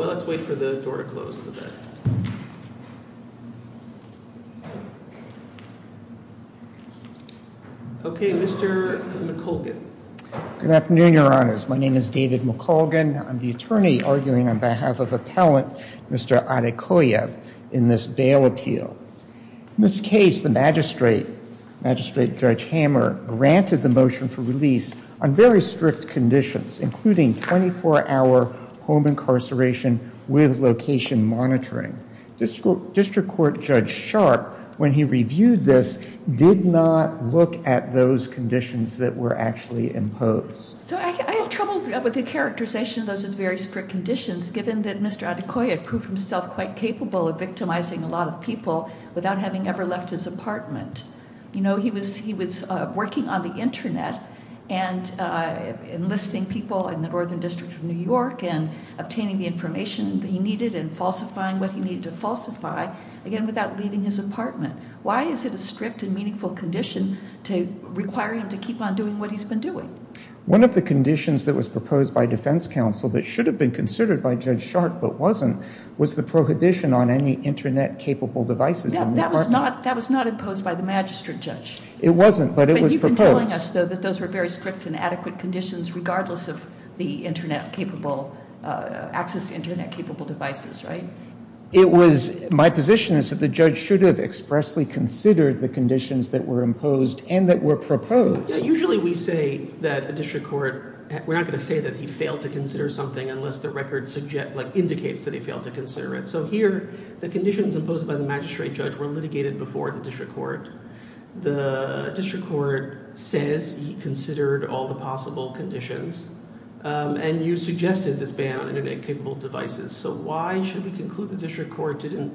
Let's wait for the door to close a little bit. Okay, Mr. McColgan Good afternoon, your honors. My name is David McColgan. I'm the attorney arguing on behalf of Appellant Mr. Adekoya in this bail appeal. In this case, the magistrate, Magistrate Judge Hammer, granted the motion for release on very strict conditions, including 24-hour home incarceration with location monitoring. District Court Judge Sharp, when he reviewed this, did not look at those conditions that were actually imposed. So, I have trouble with the characterization of those as very strict conditions given that Mr. Adekoya proved himself quite capable of victimizing a lot of people without having ever left his apartment. You know, he was working on the internet and enlisting people in the Northern District of New York and obtaining the information that he needed and falsifying what he needed to falsify, again without leaving his apartment. Why is it a strict and meaningful condition to require him to keep on doing what he's been doing? One of the conditions that was proposed by defense counsel that should have been considered by Judge Sharp but wasn't, was the prohibition on any internet-capable devices. That was not imposed by the magistrate judge. It wasn't, but it was proposed. You've been telling us though that those were very strict and adequate conditions regardless of the internet-capable, access to internet-capable devices, right? It was, my position is that the judge should have expressly considered the conditions that were imposed and that were proposed. Usually we say that a district court, we're not going to say that he failed to consider something unless the record indicates that he failed to consider it. So here, the conditions imposed by the magistrate judge were litigated before the district court. The district court says he considered all the possible conditions and you suggested this ban on internet-capable devices. So why should we conclude the district court didn't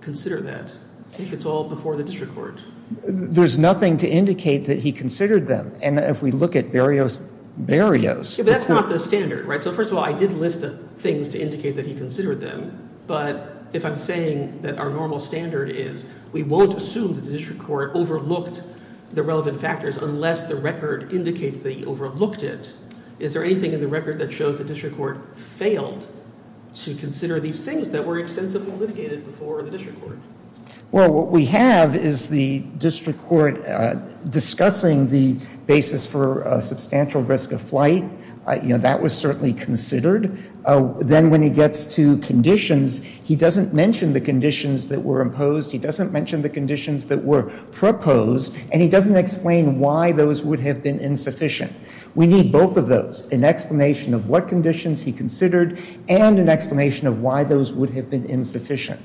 consider that if it's all before the district court? There's nothing to indicate that he considered them and if we look at barriers, barriers. That's not the standard, right? So first of all, I did list things to indicate that he considered them, but if I'm saying that our normal standard is we won't assume that the district court overlooked the relevant factors unless the record indicates that he overlooked it, is there anything in the record that shows the district court failed to consider these things that were extensively litigated before the district court? Well, what we have is the district court discussing the basis for a substantial risk of flight. You know, that was certainly considered. Then when he gets to conditions, he doesn't mention the conditions that were imposed, he doesn't mention the conditions that were proposed, and he doesn't explain why those would have been insufficient. We need both of those, an explanation of what conditions he considered and an explanation of why those would have been insufficient.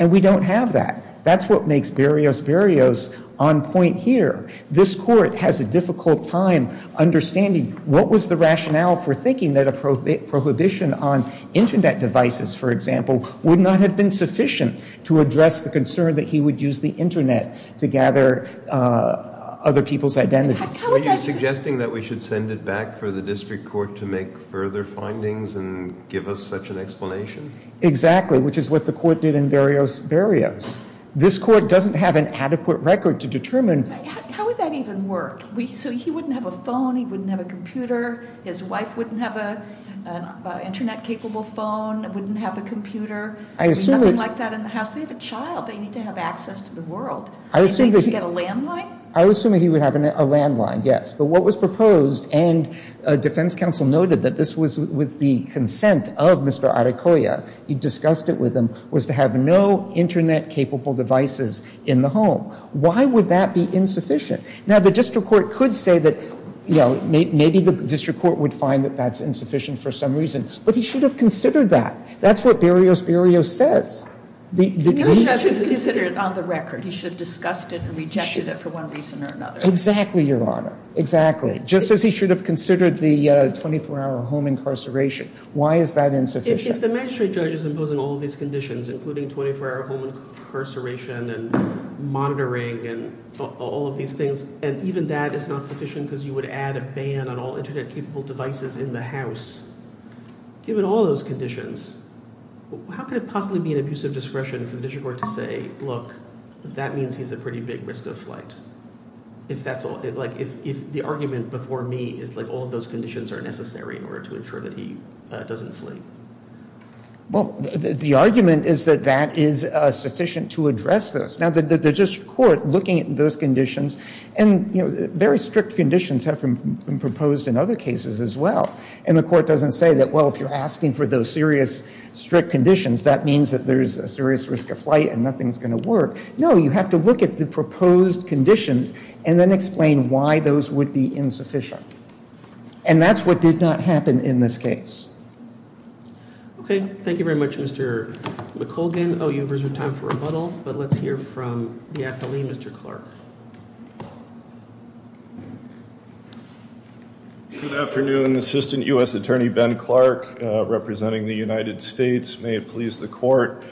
And we don't have that. That's what makes barriers, barriers on point here. This court has a difficult time understanding what was the rationale for thinking that a prohibition on internet devices, for example, would not have been sufficient to address the concern that he would use the internet to gather other people's identities. Were you suggesting that we should send it back for the district court to make further findings and give us such an explanation? Exactly, which is what the court did in barriers. This court doesn't have an adequate record to that. How would that even work? So he wouldn't have a phone, he wouldn't have a computer, his wife wouldn't have an internet-capable phone, wouldn't have a computer, there'd be nothing like that in the house. They have a child they need to have access to the world. Do they need to get a landline? I assume he would have a landline, yes. But what was proposed, and a defense counsel noted that this was with the consent of Mr. Adecoya, he discussed it with him, was to have no internet capable devices in the home. Why would that be insufficient? Now the district court could say that, you know, maybe the district court would find that that's insufficient for some reason, but he should have considered that. That's what Barrios Barrios says. He should have considered it on the record. He should have discussed it and rejected it for one reason or another. Exactly, Your Honor. Exactly. Just as he should have considered the 24-hour home incarceration. Why is that insufficient? If the magistrate judge is imposing all of these conditions, including 24-hour home incarceration and monitoring and all of these things, and even that is not sufficient because you would add a ban on all internet-capable devices in the house, given all those conditions, how could it possibly be an abuse of discretion for the district court to say, look, that means he's a pretty big risk of flight? If the argument before me is like all of those conditions are necessary in order to ensure that he doesn't flee? Well, the argument is that that is sufficient to address this. Now the district court looking at those conditions and, you know, very strict conditions have been proposed in other cases as well. And the court doesn't say that, well, if you're asking for those serious strict conditions, that means that there's a serious risk of flight and nothing's going to work. No, you have to look at the proposed conditions and then explain why those would be insufficient. And that's what did not happen in this case. Okay. Thank you very much, Mr. McColgan. Oh, you have reserved time for rebuttal, but let's hear from the athlete, Mr. Clark. Good afternoon, Assistant U.S. Attorney Ben Clark, representing the United States. May it please the court.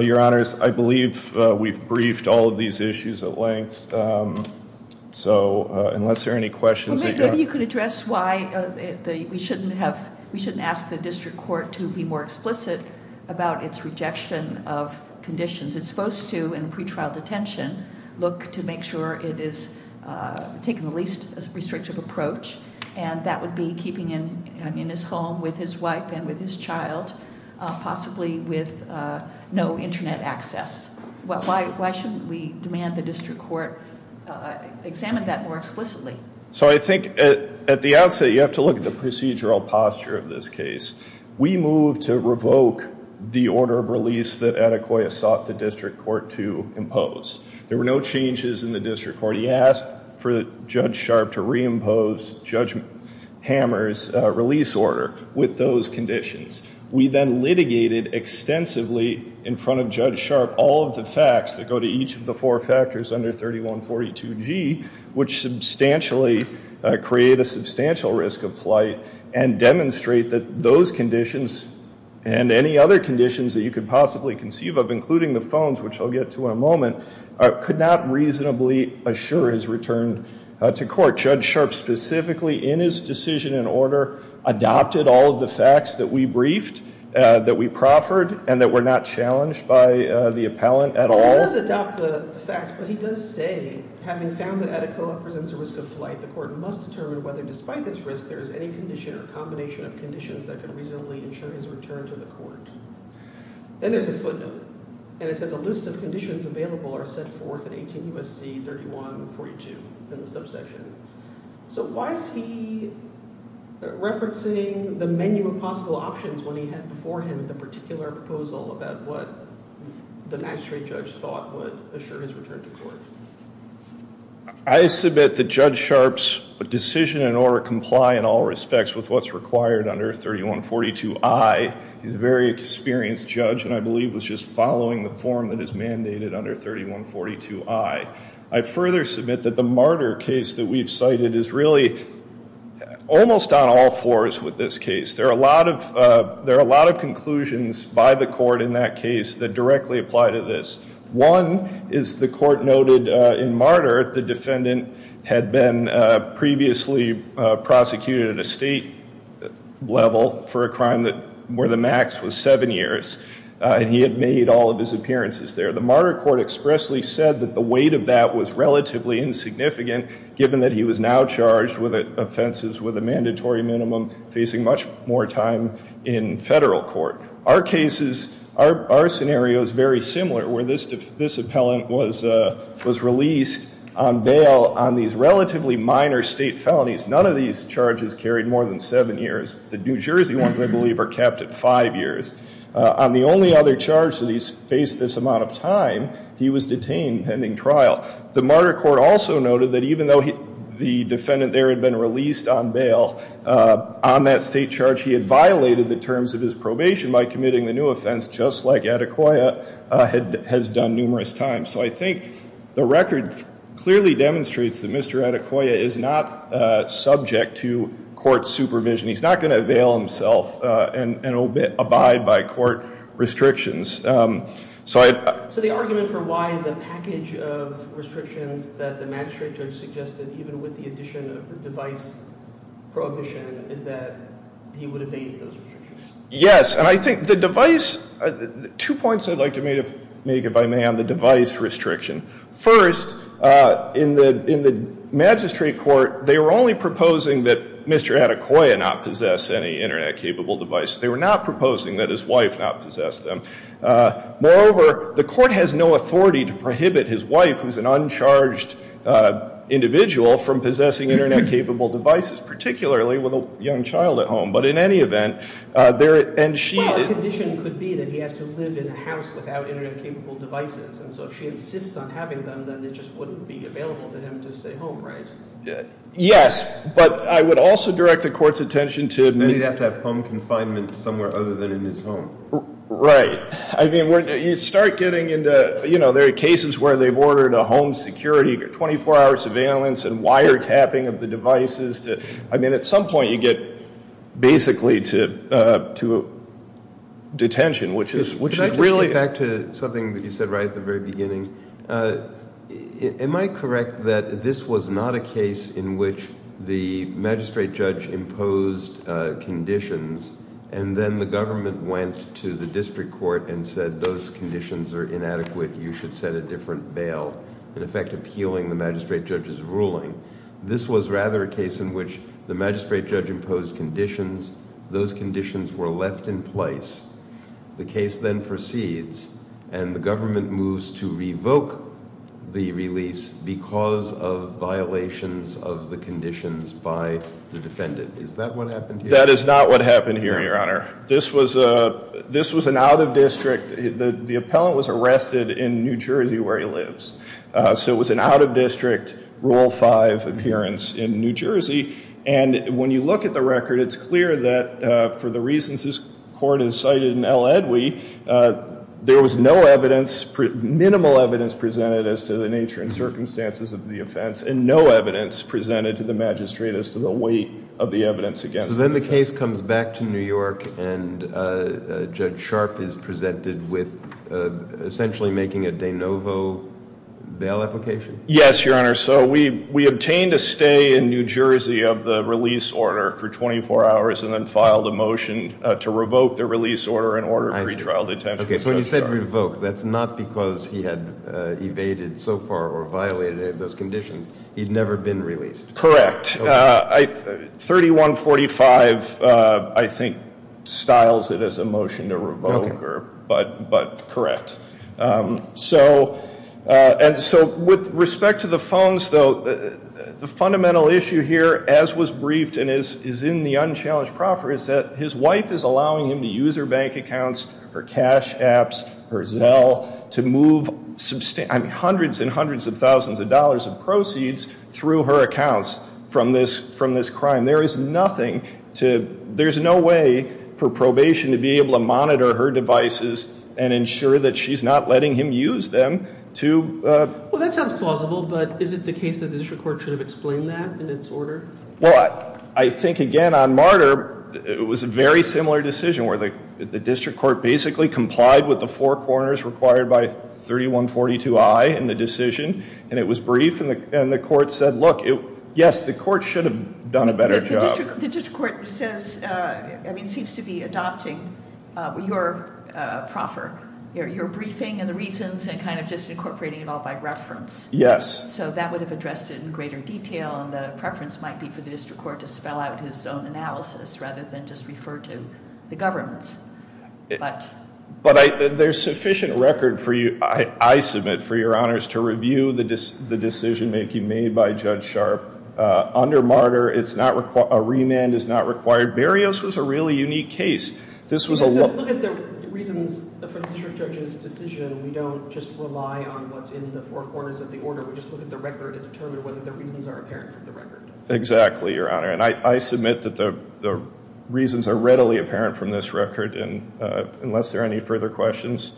Your honors, I believe we've briefed all of these issues at length. So unless there are any questions- Maybe you could address why we shouldn't ask the district court to be more explicit about its rejection of conditions. It's supposed to, in pretrial detention, look to make sure it is taking the least restrictive approach. And that would be keeping in his home with his wife and with his child, possibly with no internet access. Why shouldn't we demand the district court examine that more explicitly? So I think at the outset, you have to look at the procedural posture of this case. We moved to revoke the order of release that Adequoya sought the district court to impose. There were no changes in the district court. He asked for Judge Sharp to reimpose Judge Hammer's release order with those conditions. We then litigated extensively in front of Judge Sharp all of the facts that go to each of the four factors under 3142G, which substantially create a substantial risk of flight, and demonstrate that those conditions and any other conditions that you could possibly conceive of, including the phones, which I'll get to in a moment, could not reasonably assure his return to court. Judge Sharp specifically in his decision in order adopted all of the facts that we briefed, that we proffered, and that were not challenged by the appellant at all. He does adopt the facts, but he does say, having found that Adequoya presents a risk of flight, the court must determine whether, despite this risk, there is any condition or combination of conditions that could reasonably ensure his return to the court. Then there's a footnote, and it says a list of conditions available are set forth in 18 U.S.C. 3142 in the subsection. So why is he referencing the menu of possible options when he had before him the particular proposal about what the magistrate judge thought would assure his return to court? I submit that Judge Sharp's decision and order comply in all respects with what's required under 3142I. He's a very experienced judge, and I believe was just following the form that is we've cited is really almost on all fours with this case. There are a lot of conclusions by the court in that case that directly apply to this. One is the court noted in Martyr the defendant had been previously prosecuted at a state level for a crime that where the max was seven years, and he had made all of his appearances there. The Martyr court expressly said that the weight of that was relatively insignificant, given that he was now charged with offenses with a mandatory minimum, facing much more time in federal court. Our cases, our scenario is very similar, where this appellant was released on bail on these relatively minor state felonies. None of these charges carried more than seven years. The New Jersey ones, I believe, are kept at five years. On the only other charge that he's faced this amount of time, he was detained pending trial. The Martyr court also noted that even though the defendant there had been released on bail, on that state charge, he had violated the terms of his probation by committing the new offense, just like Adequoya had has done numerous times. So I think the record clearly demonstrates that Mr. Adequoya is not subject to court supervision. He's not going to avail himself and a bit abide court restrictions. So the argument for why the package of restrictions that the magistrate judge suggested, even with the addition of the device prohibition, is that he would evade those restrictions. Yes, and I think the device, two points I'd like to make, if I may, on the device restriction. First, in the magistrate court, they were only proposing that Mr. Adequoya not possess any internet-capable device. They were not proposing that his wife not possess them. Moreover, the court has no authority to prohibit his wife, who's an uncharged individual, from possessing internet-capable devices, particularly with a young child at home. Well, the condition could be that he has to live in a house without internet-capable devices, and so if she insists on having them, then it just wouldn't be available to him to stay home, right? Yes, but I would also direct the court's attention to... Then he'd have to have home confinement somewhere other than in his home. Right. I mean, you start getting into, you know, there are cases where they've ordered a home security, 24-hour surveillance, and wiretapping of the devices. I mean, at some point you get basically to detention, which is really... Can I just jump back to something that you said right at the very beginning? Am I correct that this was not a case in which the magistrate judge imposed conditions, and then the government went to the district court and said, those conditions are inadequate, you should set a different bail, in effect appealing the magistrate judge's ruling? This was rather a case in which the magistrate judge imposed conditions, those conditions were left in place, the case then proceeds, and the government moves to revoke the release because of violations of the conditions by the defendant. Is that what happened here? That is not what happened here, Your Honor. This was an out-of-district... The appellant was arrested in New Jersey where he lives, so it was an out-of-district Rule 5 appearance in New Jersey, and when you look at the record, it's clear that for the reasons this court has cited in L. Edwie, there was no evidence, minimal evidence presented as to the nature and circumstances of the offense, and no evidence presented to the magistrate as to the weight of the evidence against him. So then the case comes back to New York, and Judge Sharp is presented with essentially making a de novo bail application? Yes, Your Honor. So we obtained a stay in New Jersey of the release order for 24 hours, and then filed a motion to revoke the release order and order pretrial detention. So when you said revoke, that's not because he had evaded so far or violated those conditions. He'd never been released. Correct. 3145, I think, styles it as a motion to revoke, but correct. So with respect to the phones, though, the fundamental issue here as was briefed and is in the unchallenged proffer is that his wife is allowing him to use her bank accounts, her cash apps, her Zelle, to move hundreds and hundreds of thousands of dollars of proceeds through her accounts from this crime. There's no way for probation to be able to monitor her devices and ensure that she's not letting him use them to- Well, that sounds plausible, but is it the case that the district court should have explained that in its order? Well, I think, again, on Martyr, it was a very similar decision where the district court basically complied with the four corners required by 3142I in the decision, and it was brief, and the court said, look, yes, the court should have done a better job. The district court seems to be adopting your proffer, your briefing and the reasons, and kind of just incorporating it all by reference. Yes. So that would have addressed it in greater detail, and the preference might be for the district court to spell out his own analysis rather than just refer to the governments. But there's sufficient record, I submit, for your honors to review the decision making made by Judge Sharp. Under Martyr, a remand is not required. Berrios was a really unique case. This was a- Look at the reasons for the district judge's decision. We don't just rely on what's in the four corners of the order. We just look at the record and determine whether the reasons are apparent from the record. Exactly, your honor. And I submit that the reasons are readily apparent from this record, and unless there are any further questions,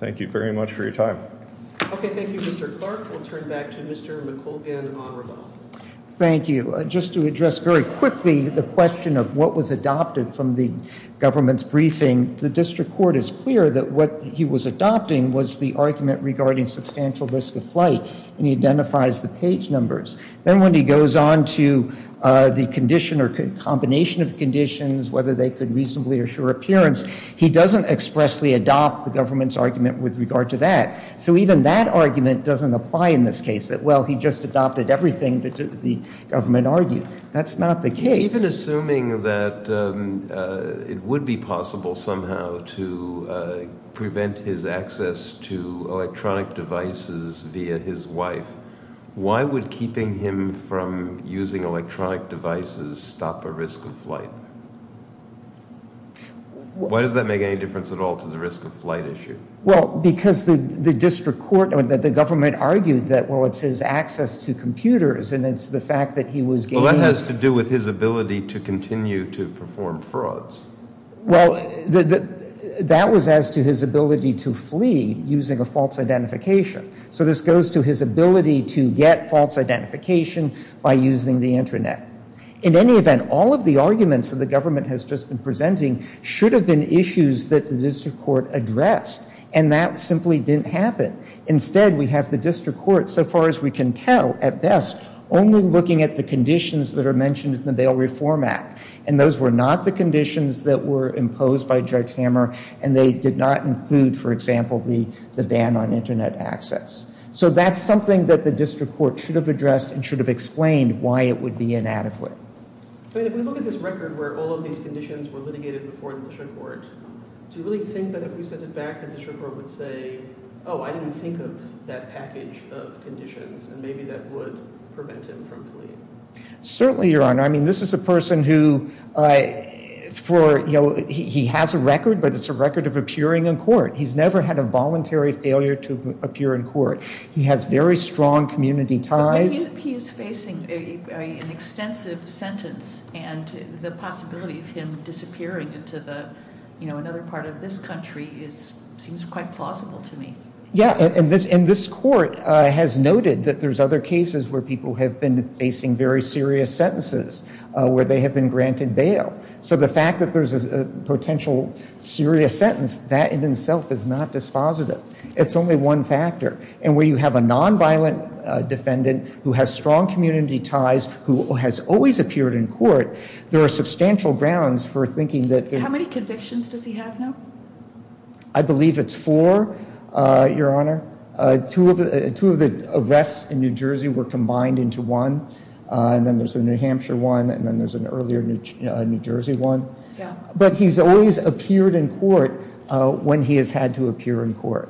thank you very much for your time. Okay, thank you, Mr. Clark. We'll turn back to Mr. McColgan and Honorable. Thank you. Just to address very quickly the question of what was adopted from the government's briefing, the district court is clear that what he was adopting was the argument regarding substantial risk of flight, and he identifies the page numbers. Then when he goes on to the condition or combination of conditions, whether they could reasonably assure appearance, he doesn't expressly adopt the government's argument with regard to that. So even that argument doesn't apply in this case, that, well, he just adopted everything that the government argued. That's not the case. Even assuming that it would be possible somehow to prevent his access to electronic devices via his wife, why would keeping him from using electronic devices stop a risk of flight? Why does that make any difference at all to the risk of flight issue? Well, because the district court or the government argued that, well, it's his access to computers, and it's the fact that he was— Well, that has to do with his ability to continue to perform frauds. Well, that was as to his ability to flee using a false identification. So this goes to his ability to get false identification by using the internet. In any event, all of the arguments that the government has just been presenting should have been issues that the district court addressed, and that simply didn't happen. Instead, we have the district court, so far as we can tell, at best, only looking at the conditions that are mentioned in the Bail Reform Act, and those were not the conditions that were imposed by Judge Hammer, and they did not include, for example, the ban on internet access. So that's something that the district court should have addressed and should have explained why it would be inadequate. But if we look at this record where all of these conditions were litigated before the district court, do you really think that if we sent it back, the district court would say, oh, I didn't think of that package of conditions, and maybe that would prevent him from fleeing? Certainly, Your Honor. I mean, this is a person who, for, you know, he has a record, but it's a record of appearing in court. He's never had a voluntary failure to appear in court. He has very strong community ties. He is facing an extensive sentence, and the possibility of him disappearing into the, you know, another part of this country seems quite plausible to me. Yeah, and this court has noted that there's other cases where people have been facing very serious sentences, where they have been granted bail. So the fact that there's a potential serious sentence, that in itself is not dispositive. It's only one factor. And where you have a nonviolent defendant who has strong community ties, who has always appeared in court, there are substantial grounds for thinking that. How many convictions does he have now? I believe it's four, Your Honor. Two of the arrests in New Jersey were combined into one, and then there's a New Hampshire one, and then there's an earlier New Jersey one. But he's always appeared in court when he has had to appear in court.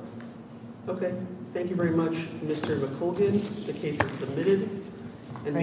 Okay, thank you very much, Mr. McColgan. The case is submitted.